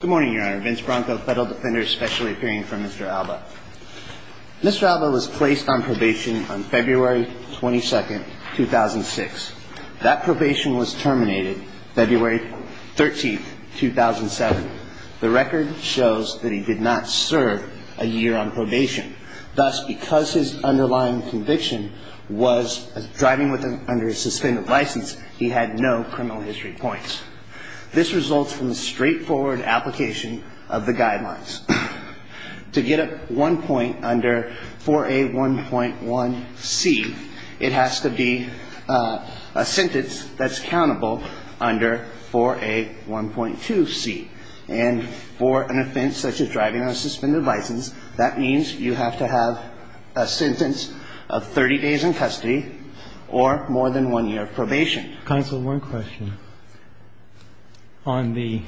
Good morning, Your Honor. Vince Bronco, Federal Defender, specially appearing for Mr. Alba. Mr. Alba was placed on probation on February 22, 2006. That probation was terminated February 13, 2007. The record shows that he did not serve a year on probation. Thus, because his underlying conviction was driving under a suspended license, he had no criminal history points. This results from the straightforward application of the guidelines. To get a one point under 4A1.1c, it has to be a sentence that's countable under 4A1.2c. And for an offense such as driving under a suspended license, that means you have to have a sentence of 30 days in custody or more than one year of probation. And that's a sentence that's countable under 4A1.2c. The question is, was he then under a criminal justice sentence? Counsel, one question. On the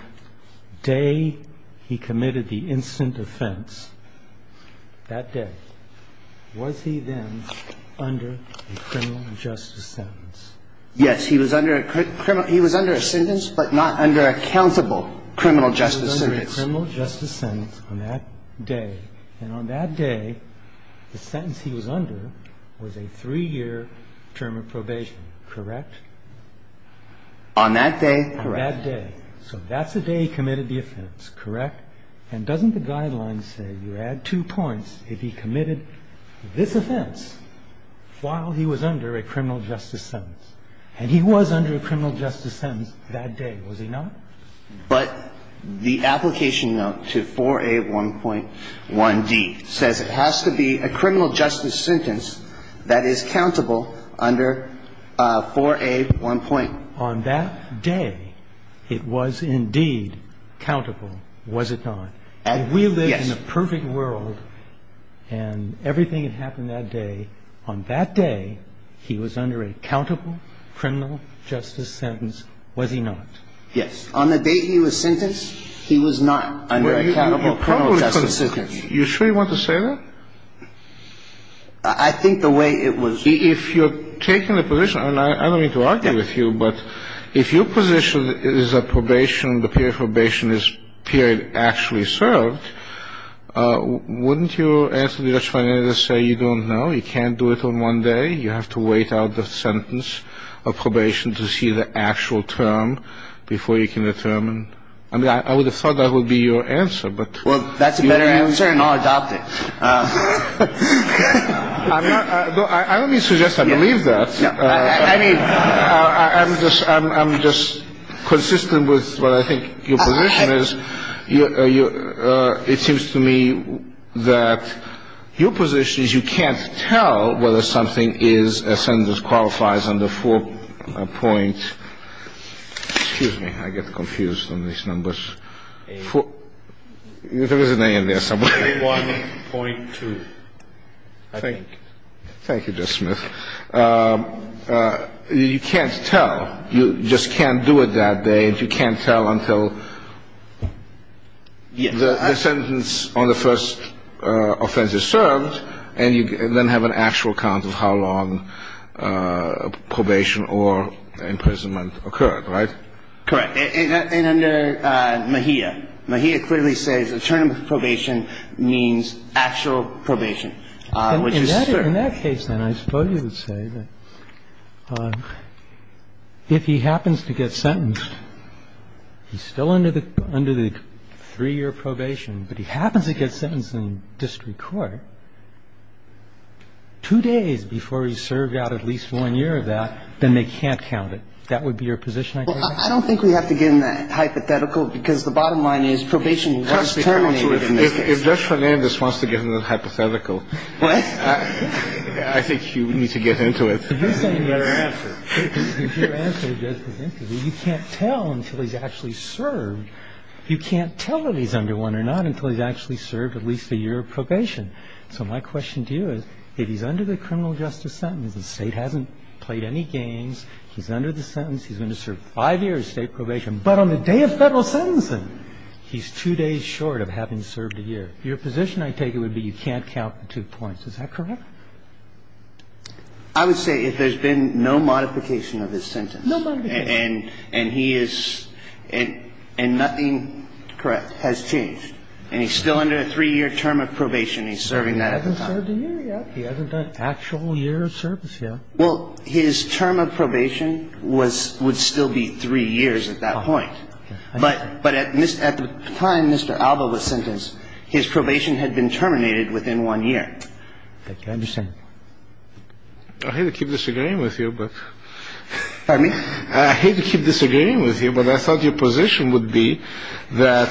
day he committed the instant offense, that day, was he then under a criminal justice sentence? Yes, he was under a criminal – he was under a sentence, but not under a countable criminal justice sentence. He was under a criminal justice sentence on that day. And on that day, the sentence he was under was a three-year term of probation, correct? On that day, correct. On that day. So that's the day he committed the offense, correct? And doesn't the guidelines say you add two points if he committed this offense while he was under a criminal justice sentence? And he was under a criminal justice sentence that day, was he not? But the application note to 4A1.1d says it has to be a criminal justice sentence that is countable under 4A1. On that day, it was indeed countable, was it not? Yes. In the perfect world, and everything that happened that day, on that day, he was under a countable criminal justice sentence, was he not? Yes. On the day he was sentenced, he was not under a countable criminal justice sentence. You're sure you want to say that? I think the way it was – If you're taking the position, and I don't mean to argue with you, but if your position is that probation, the period of probation is period actually served, wouldn't you answer the judge by saying you don't know, you can't do it on one day, you have to wait out the sentence of probation to see the actual term before you can determine – I mean, I would have thought that would be your answer, but – Well, that's a better answer, and I'll adopt it. I'm not – I don't mean to suggest I believe that. I mean, I'm just – I'm just consistent with what I think your position is. It seems to me that your position is you can't tell whether something is a sentence qualifies under four point – excuse me. I get confused on these numbers. There is an A in there somewhere. 1.2, I think. Thank you, Judge Smith. You can't tell. You just can't do it that day, and you can't tell until the sentence on the first offense is served, and you then have an actual count of how long probation or imprisonment occurred, right? Correct. And under Mejia. Mejia clearly says a term of probation means actual probation, which is served. In that case, then, I suppose you would say that if he happens to get sentenced, he's still under the three-year probation, but he happens to get sentenced in district court, two days before he's served out at least one year of that, then they can't count it. That would be your position, I guess? Well, I don't think we have to give him that hypothetical because the bottom line is probation was terminated in this case. If Judge Fernandez wants to give him that hypothetical, I think you need to get into it. You can't tell until he's actually served. You can't tell if he's under one or not until he's actually served at least a year of probation. So my question to you is, if he's under the criminal justice sentence, the State hasn't played any games, he's under the sentence, he's going to serve five years of State probation, but on the day of federal sentencing, he's two days short of having served a year. Your position, I take it, would be you can't count the two points. Is that correct? I would say if there's been no modification of his sentence. No modification. And he is – and nothing has changed. And he's still under a three-year term of probation. He's serving that at the time. He hasn't served a year yet. He hasn't done actual year of service yet. Well, his term of probation would still be three years at that point. But at the time Mr. Alba was sentenced, his probation had been terminated within one year. I understand. I hate to keep disagreeing with you, but – Pardon me? I hate to keep disagreeing with you, but I thought your position would be that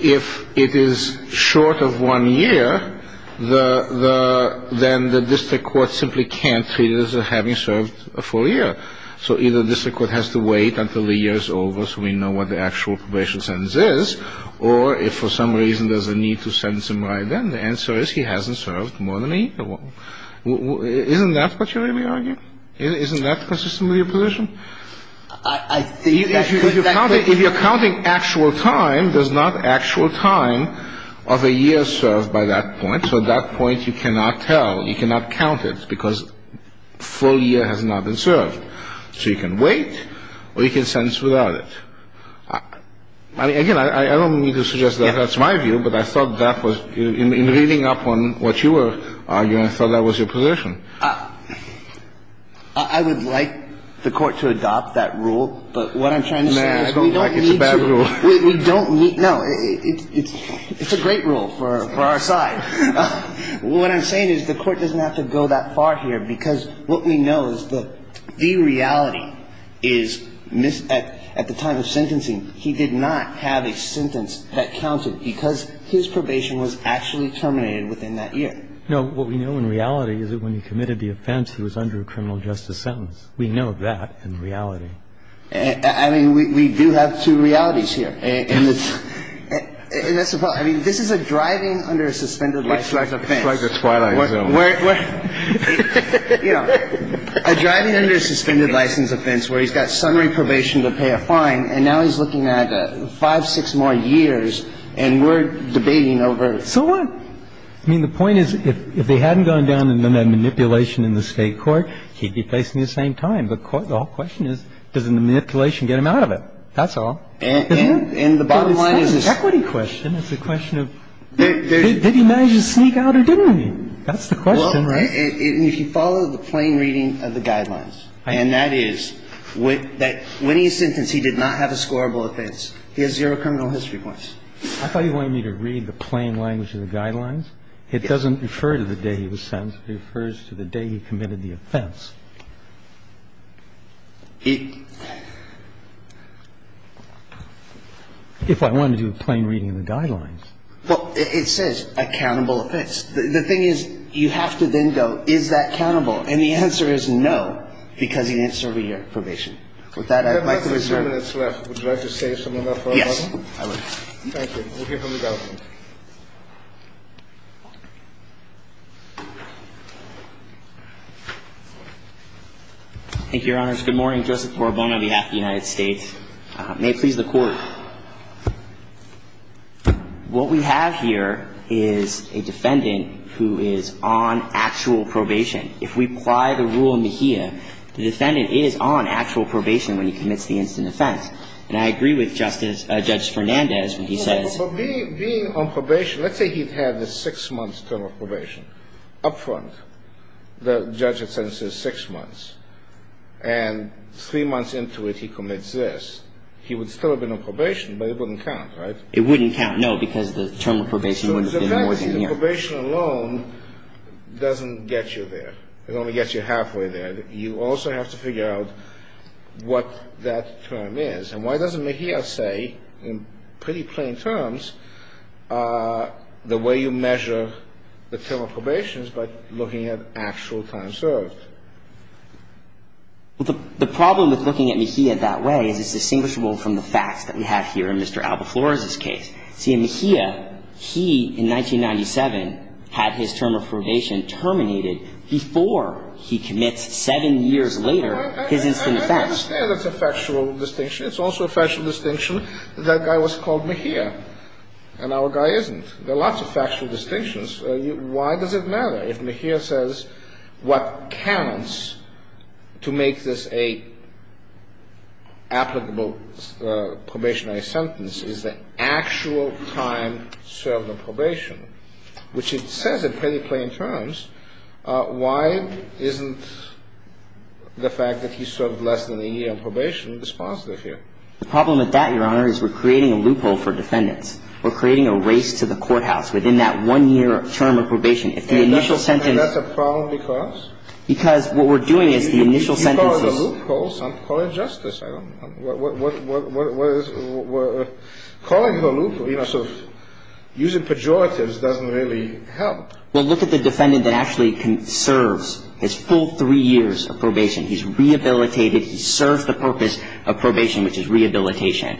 if it is short of one year, then the district court simply can't treat it as having served a full year. So either the district court has to wait until the year is over so we know what the actual probation sentence is, or if for some reason there's a need to sentence him right then, the answer is he hasn't served more than a year. Isn't that what you're really arguing? Isn't that consistent with your position? I think that could be true. If you're counting actual time, there's not actual time of a year served by that point. So at that point you cannot tell, you cannot count it, because full year has not been served. So you can wait or you can sentence without it. Again, I don't mean to suggest that that's my view, but I thought that was – in reading up on what you were arguing, I thought that was your position. I would like the court to adopt that rule, but what I'm trying to say is we don't need to – No, I don't like it's a bad rule. We don't need – no, it's a great rule for our side. What I'm saying is the court doesn't have to go that far here because what we know is that the reality is at the time of sentencing he did not have a sentence that counted because his probation was actually terminated within that year. No, what we know in reality is that when he committed the offense, he was under a criminal justice sentence. We know that in reality. I mean, we do have two realities here. And that's the problem. I mean, this is a driving under a suspended license offense. It's like the Twilight Zone. You know, a driving under a suspended license offense where he's got summary probation to pay a fine, and now he's looking at five, six more years, and we're debating over – So what? I mean, the point is if they hadn't gone down and done that manipulation in the State court, he'd be facing the same time. The whole question is doesn't the manipulation get him out of it? That's all. And the bottom line is this. But it's not an equity question. It's a question of did he manage to sneak out or didn't he? That's the question. Well, right. And if you follow the plain reading of the guidelines, and that is that when he is sentenced, he did not have a scorable offense. He has zero criminal history points. I thought you wanted me to read the plain language of the guidelines. It doesn't refer to the day he was sentenced. It refers to the day he committed the offense. If I wanted to do a plain reading of the guidelines. Well, it says accountable offense. The thing is, you have to then go, is that countable? And the answer is no, because he didn't serve a year of probation. With that, I'd like to reserve. We have about three minutes left. Would you like to say something about that? Yes, I would. Thank you. We'll hear from the government. Thank you, Your Honors. Good morning. Joseph Corbon on behalf of the United States. May it please the Court. What we have here is a defendant who is on actual probation. If we apply the rule in Mejia, the defendant is on actual probation when he commits the instant offense. And I agree with Justice – Judge Fernandez when he says – For being on probation, let's say he had a six-month term of probation up front. The judge had sentenced him to six months. And three months into it, he commits this. He would still have been on probation, but it wouldn't count, right? It wouldn't count, no, because the term of probation would have been more than a year. So the fact that he's on probation alone doesn't get you there. It only gets you halfway there. You also have to figure out what that term is. And why doesn't Mejia say, in pretty plain terms, the way you measure the term of probation is by looking at actual time served? The problem with looking at Mejia that way is it's distinguishable from the facts that we have here in Mr. Alba Flores' case. See, in Mejia, he, in 1997, had his term of probation terminated before he commits seven years later his instant offense. I understand that's a factual distinction. It's also a factual distinction that that guy was called Mejia, and our guy isn't. There are lots of factual distinctions. Why does it matter? If Mejia says what counts to make this an applicable probationary sentence is the actual time served on probation, which it says in pretty plain terms, why isn't the fact that he served less than a year on probation dispositive here? The problem with that, Your Honor, is we're creating a loophole for defendants. We're creating a race to the courthouse within that one-year term of probation. If the initial sentence — And that's a problem because? Because what we're doing is the initial sentences — You call it a loophole. I'm calling it justice. We're calling it a loophole, so using pejoratives doesn't really help. Well, look at the defendant that actually serves his full three years of probation. He's rehabilitated. He serves the purpose of probation, which is rehabilitation.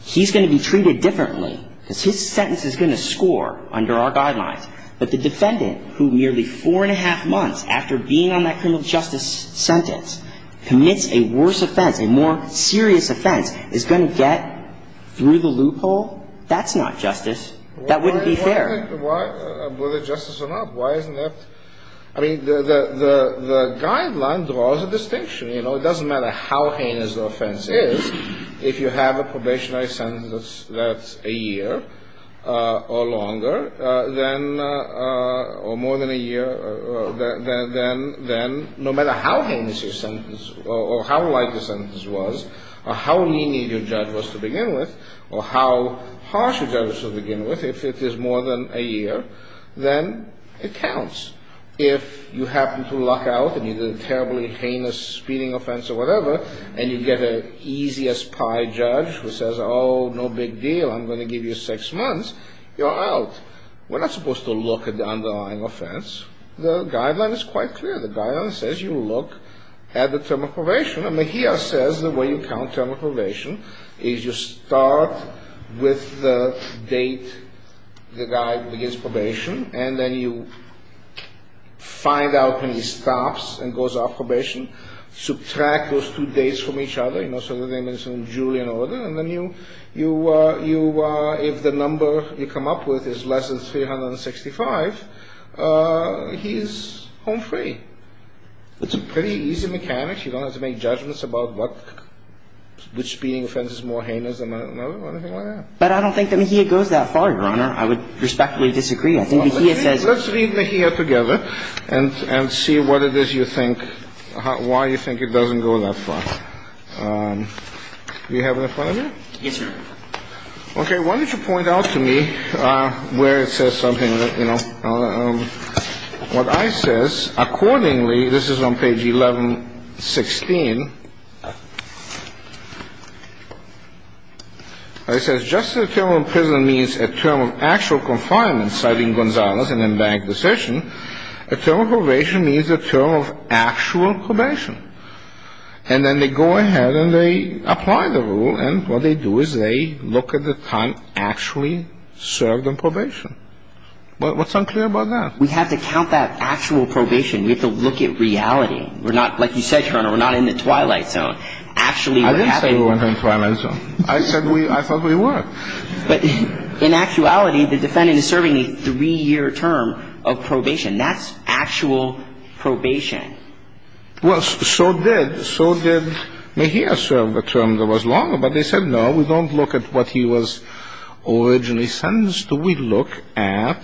He's going to be treated differently because his sentence is going to score under our guidelines. But the defendant who nearly four and a half months after being on that criminal justice sentence commits a worse offense, a more serious offense, is going to get through the loophole? That's not justice. That wouldn't be fair. Whether justice or not, why isn't that — I mean, the guideline draws a distinction. You know, it doesn't matter how heinous the offense is. If you have a probationary sentence that's a year or longer than or more than a year, then no matter how heinous your sentence or how light the sentence was or how lenient your judge was to begin with or how harsh your judge was to begin with, if it is more than a year, then it counts. If you happen to luck out and you did a terribly heinous speeding offense or whatever and you get an easy-as-pie judge who says, oh, no big deal, I'm going to give you six months, you're out. We're not supposed to look at the underlying offense. The guideline is quite clear. The guideline says you look at the term of probation. And Mejia says the way you count term of probation is you start with the date the guy begins probation and then you find out when he stops and goes off probation, subtract those two dates from each other. You know, so the name is in Julian order. And then you — if the number you come up with is less than 365, he's home free. It's a pretty easy mechanic. You don't have to make judgments about what — which speeding offense is more heinous than another or anything like that. But I don't think that Mejia goes that far, Your Honor. I would respectfully disagree. I think Mejia says — Let's read Mejia together and see what it is you think — why you think it doesn't go that far. Do you have an opponent here? Yes, Your Honor. Okay. Why don't you point out to me where it says something that, you know — what I says. Accordingly, this is on page 1116. It says, just as a term of imprisonment means a term of actual confinement, citing Gonzalez in a bank decision, a term of probation means a term of actual probation. And then they go ahead and they apply the rule. And what they do is they look at the time actually served on probation. What's unclear about that? We have to count that actual probation. We have to look at reality. We're not — like you said, Your Honor, we're not in the twilight zone. Actually, what happened — I didn't say we weren't in the twilight zone. I said we — I thought we were. But in actuality, the defendant is serving a three-year term of probation. That's actual probation. Well, so did — so did Mejia serve a term that was longer. But they said, no, we don't look at what he was originally sentenced to. We look at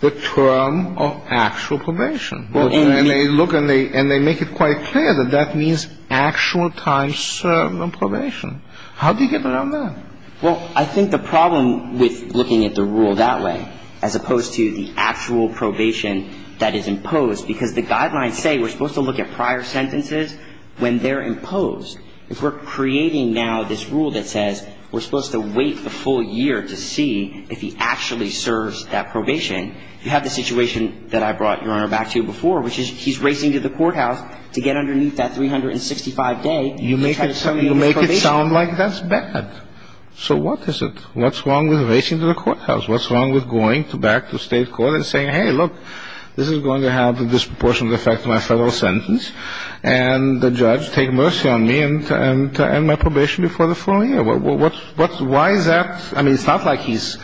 the term of actual probation. And they look and they make it quite clear that that means actual time served on probation. How do you get around that? Well, I think the problem with looking at the rule that way, as opposed to the actual probation that is imposed, because the guidelines say we're supposed to look at prior sentences when they're imposed. If we're creating now this rule that says we're supposed to wait a full year to see if he actually serves that probation, you have the situation that I brought, Your Honor, back to before, which is he's racing to the courthouse to get underneath that 365 day to try to terminate his probation. You make it sound like that's bad. So what is it? What's wrong with racing to the courthouse? What's wrong with going back to state court and saying, hey, look, this is going to have a disproportionate effect on my federal sentence, and the judge take mercy on me and end my probation before the following year? Why is that? I mean, it's not like he's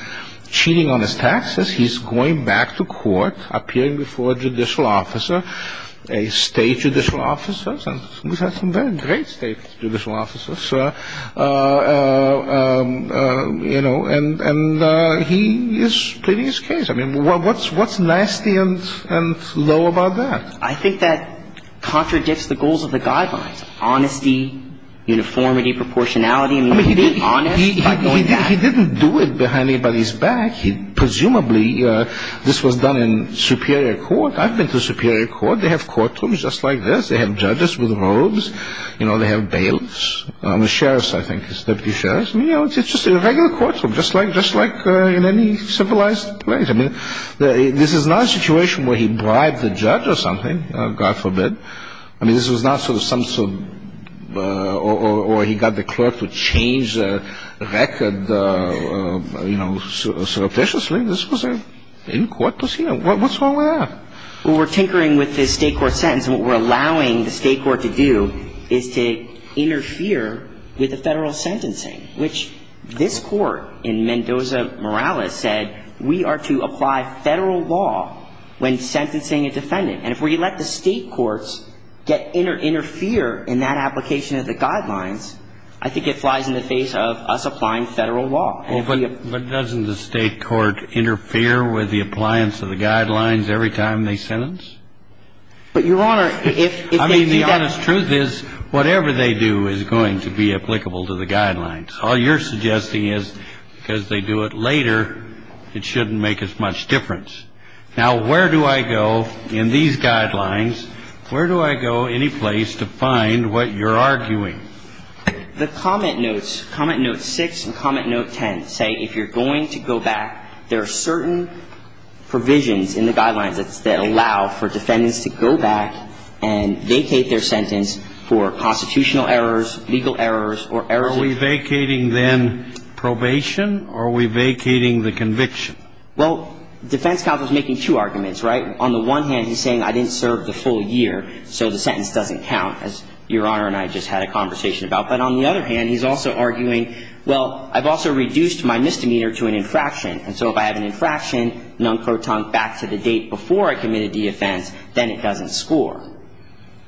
cheating on his taxes. He's going back to court, appearing before a judicial officer, a state judicial officer, and we have some very great state judicial officers, you know, and he is pleading his case. I mean, what's nasty and low about that? I think that contradicts the goals of the guidelines, honesty, uniformity, proportionality. I mean, he didn't do it behind anybody's back. Presumably, this was done in superior court. I've been to superior court. They have courtrooms just like this. They have judges with robes. You know, they have bailiffs. The sheriff, I think, is deputy sheriff. You know, it's just a regular courtroom, just like in any civilized place. I mean, this is not a situation where he bribed the judge or something, God forbid. I mean, this was not sort of some sort of or he got the clerk to change the record, you know, surreptitiously. This was an in-court procedure. What's wrong with that? Well, we're tinkering with this state court sentence, and what we're allowing the state court to do is to interfere with the federal sentencing, which this court in Mendoza-Morales said we are to apply federal law when sentencing a defendant. And if we let the state courts interfere in that application of the guidelines, I think it flies in the face of us applying federal law. But doesn't the state court interfere with the appliance of the guidelines every time they sentence? But, Your Honor, if they do that – I mean, the honest truth is whatever they do is going to be applicable to the guidelines. All you're suggesting is because they do it later, it shouldn't make as much difference. Now, where do I go in these guidelines? Where do I go anyplace to find what you're arguing? The comment notes, comment note 6 and comment note 10 say if you're going to go back, there are certain provisions in the guidelines that allow for defendants to go back and vacate their sentence for constitutional errors, legal errors, or errors – Are we vacating then probation, or are we vacating the conviction? Well, the defense counsel is making two arguments, right? On the one hand, he's saying I didn't serve the full year, so the sentence doesn't count, as Your Honor and I just had a conversation about. But on the other hand, he's also arguing, well, I've also reduced my misdemeanor to an infraction. And so if I have an infraction, non-pro-tunk, back to the date before I committed the offense, then it doesn't score.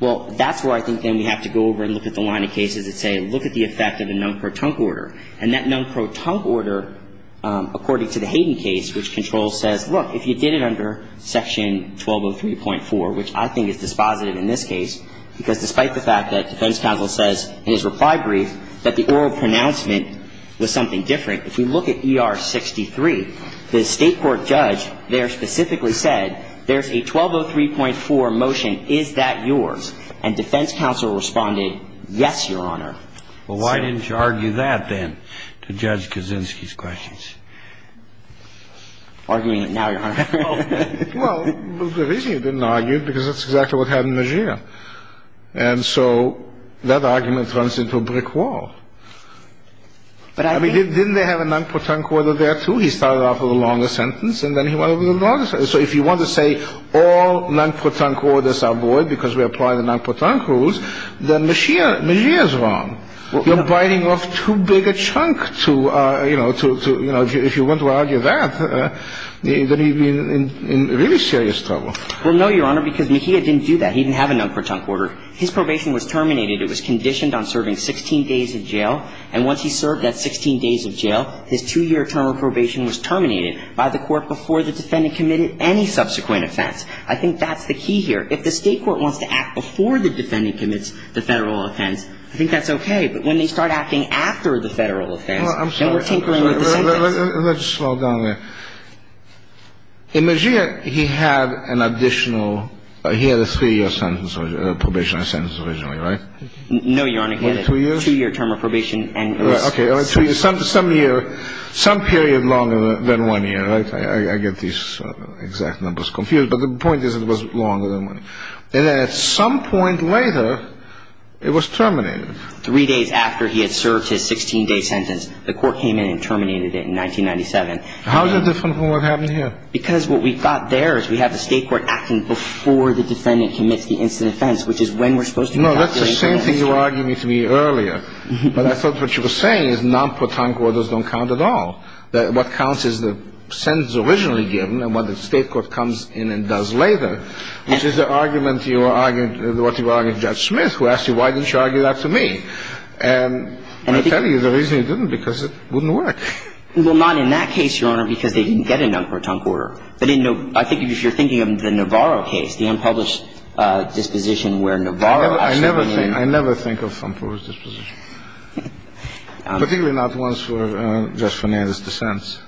Well, that's where I think then we have to go over and look at the line of cases that say look at the effect of the non-pro-tunk order. And that non-pro-tunk order, according to the Hayden case, which controls says, look, if you did it under Section 1203.4, which I think is dispositive in this case, because despite the fact that defense counsel says in his reply brief that the oral pronouncement was something different, if we look at ER 63, the State court judge there specifically said there's a 1203.4 motion. Is that yours? And defense counsel responded, yes, Your Honor. Well, why didn't you argue that then to Judge Kaczynski's questions? Arguing it now, Your Honor. Well, the reason you didn't argue it, because that's exactly what happened in Mejia. And so that argument runs into a brick wall. But I mean, didn't they have a non-pro-tunk order there, too? He started off with a longer sentence, and then he went over the longer sentence. So if you want to say all non-pro-tunk orders are void because we apply the non-pro-tunk rules, then Mejia is wrong. You're biting off too big a chunk to, you know, if you want to argue that, then he'd be in really serious trouble. Well, no, Your Honor, because Mejia didn't do that. He didn't have a non-pro-tunk order. His probation was terminated. It was conditioned on serving 16 days of jail. And once he served that 16 days of jail, his two-year term of probation was terminated by the court before the defendant committed any subsequent offense. I think that's the key here. If the State court wants to act before the defendant commits the Federal offense, I think that's okay. But when they start acting after the Federal offense, then we're tinkering with the sentence. Well, I'm sorry. Let's slow down there. In Mejia, he had an additional ‑‑ he had a three-year sentence of probation, a sentence originally, right? No, Your Honor. He had a two-year term of probation. Okay. Some year, some period longer than one year, right? I get these exact numbers confused. But the point is, it was longer than one year. And then at some point later, it was terminated. Three days after he had served his 16-day sentence, the court came in and terminated it in 1997. How is it different from what happened here? Because what we've got there is we have the State court acting before the defendant commits the instant offense, which is when we're supposed to ‑‑ No, that's the same thing you were arguing to me earlier. But I thought what you were saying is non-pro-tunk orders don't count at all. What counts is the sentence originally given and what the State court comes in and does later, which is the argument you argued, what you argued to Judge Smith, who asked you, why didn't you argue that to me? And I'll tell you the reason you didn't, because it wouldn't work. Well, not in that case, Your Honor, because they didn't get a non-pro-tunk order. They didn't know ‑‑ I think if you're thinking of the Navarro case, the unpublished disposition where Navarro I never think of unpublished dispositions, particularly not ones for Judge Fernandez to sense.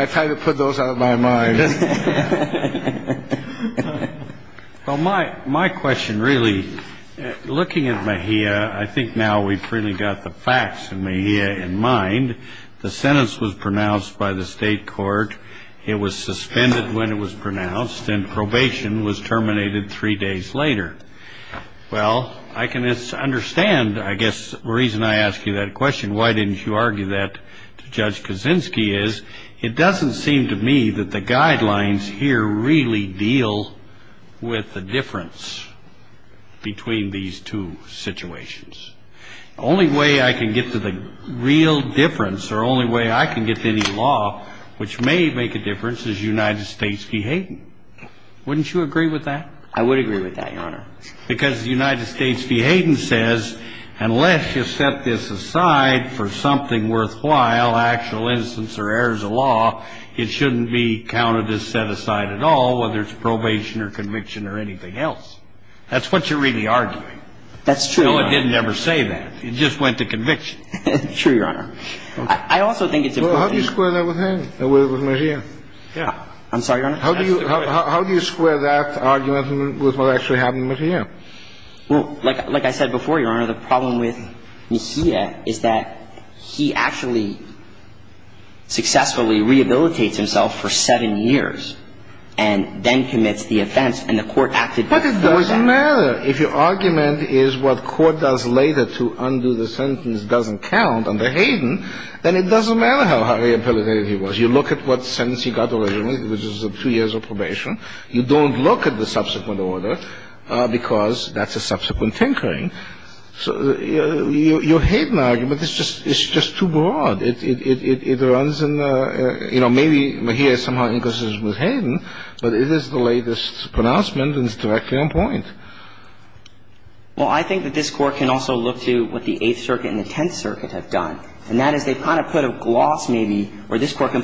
I try to put those out of my mind. Well, my question really, looking at Mejia, I think now we've really got the facts of Mejia in mind. The sentence was pronounced by the State court. It was suspended when it was pronounced and probation was terminated three days later. Well, I can understand, I guess, the reason I ask you that question, why didn't you argue that to Judge Kaczynski, is it doesn't seem to me that the guidelines here really deal with the difference between these two situations. The only way I can get to the real difference or the only way I can get to any law which may make a difference is United States v. Hayden. Wouldn't you agree with that? I would agree with that, Your Honor. Because United States v. Hayden says unless you set this aside for something worthwhile, actual instance or errors of law, it shouldn't be counted as set aside at all, whether it's probation or conviction or anything else. That's what you're really arguing. That's true, Your Honor. No, it didn't ever say that. It just went to conviction. True, Your Honor. I also think it's important. Well, how do you square that with Hayden, with Mejia? Yeah. I'm sorry, Your Honor. How do you square that argument with what actually happened with Mejia? Well, like I said before, Your Honor, the problem with Mejia is that he actually successfully rehabilitates himself for seven years and then commits the offense, and the court acted by that fact. But it doesn't matter. If your argument is what court does later to undo the sentence doesn't count under Hayden, then it doesn't matter how rehabilitated he was. The problem with Mejia is you look at what sentence he got originally, which is two years of probation. You don't look at the subsequent order because that's a subsequent tinkering. So your Hayden argument is just too broad. It runs in the – you know, maybe Mejia is somehow inconsistent with Hayden, but it is the latest pronouncement and it's directly on point. Well, I think that this Court can also look to what the Eighth Circuit and the Tenth Circuit did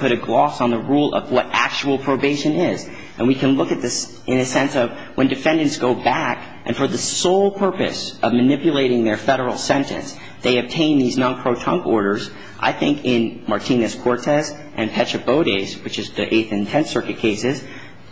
to gloss on the rule of what actual probation is. And we can look at this in a sense of when defendants go back and for the sole purpose of manipulating their Federal sentence they obtain these non-protunct orders. I think in Martinez-Cortez and Pecha Bode's, which is the Eighth and Tenth Circuit cases,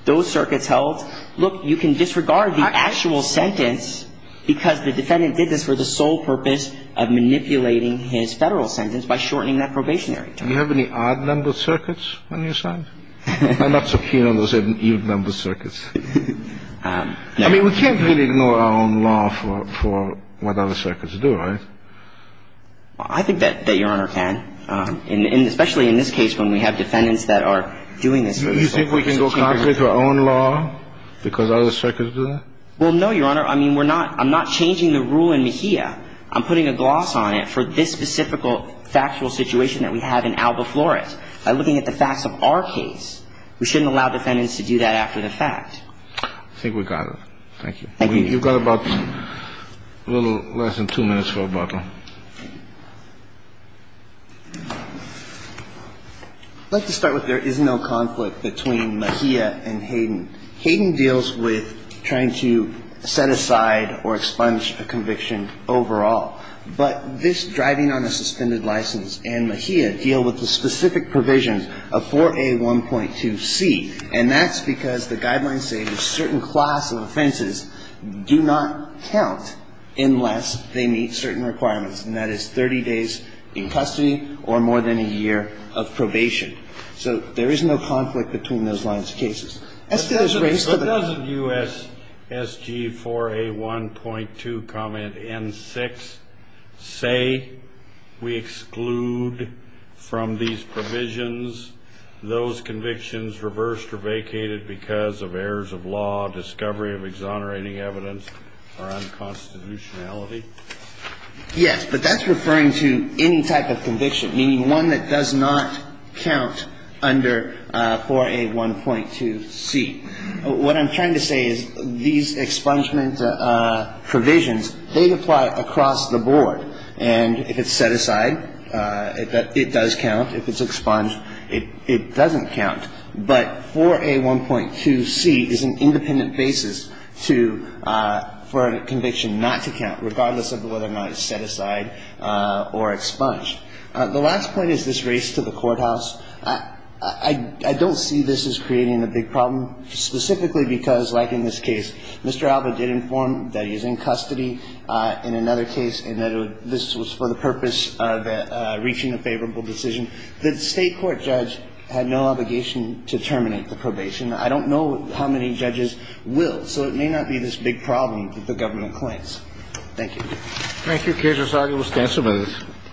those circuits held, look, you can disregard the actual sentence because the defendant did this for the sole purpose of manipulating his Federal sentence by shortening that probationary term. Do you have any odd-numbered circuits on your side? I'm not so keen on those odd-numbered circuits. I mean, we can't really ignore our own law for what other circuits do, right? Well, I think that Your Honor can. And especially in this case when we have defendants that are doing this for the sole purpose of changing their sentence. Do you think we can go concrete with our own law because other circuits do that? Well, no, Your Honor. I mean, we're not – I'm not changing the rule in Mejia. I'm putting a gloss on it for this specific factual situation that we have in Alba Flores. By looking at the facts of our case, we shouldn't allow defendants to do that after the fact. I think we got it. Thank you. Thank you. You've got about a little less than two minutes for rebuttal. I'd like to start with there is no conflict between Mejia and Hayden. Hayden deals with trying to set aside or expunge a conviction overall. But this driving on a suspended license and Mejia deal with the specific provisions of 4A1.2c. And that's because the guidelines say a certain class of offenses do not count unless they meet certain requirements, and that is 30 days in custody or more than a year of probation. So there is no conflict between those lines of cases. So doesn't U.S. S.G. 4A1.2 comment N6 say we exclude from these provisions those convictions reversed or vacated because of errors of law, discovery of exonerating evidence, or unconstitutionality? Yes, but that's referring to any type of conviction, meaning one that does not count under 4A1.2c. What I'm trying to say is these expungement provisions, they apply across the board. And if it's set aside, it does count. If it's expunged, it doesn't count. But 4A1.2c is an independent basis to for a conviction not to count, regardless of whether or not it's set aside or expunged. The last point is this race to the courthouse. I don't see this as creating a big problem, specifically because, like in this case, Mr. Alba did inform that he's in custody in another case and that this was for the purpose of reaching a favorable decision. The State court judge had no obligation to terminate the probation. I don't know how many judges will. So it may not be this big problem that the government claims. Thank you. Thank you. The case is signed. It was 10 minutes.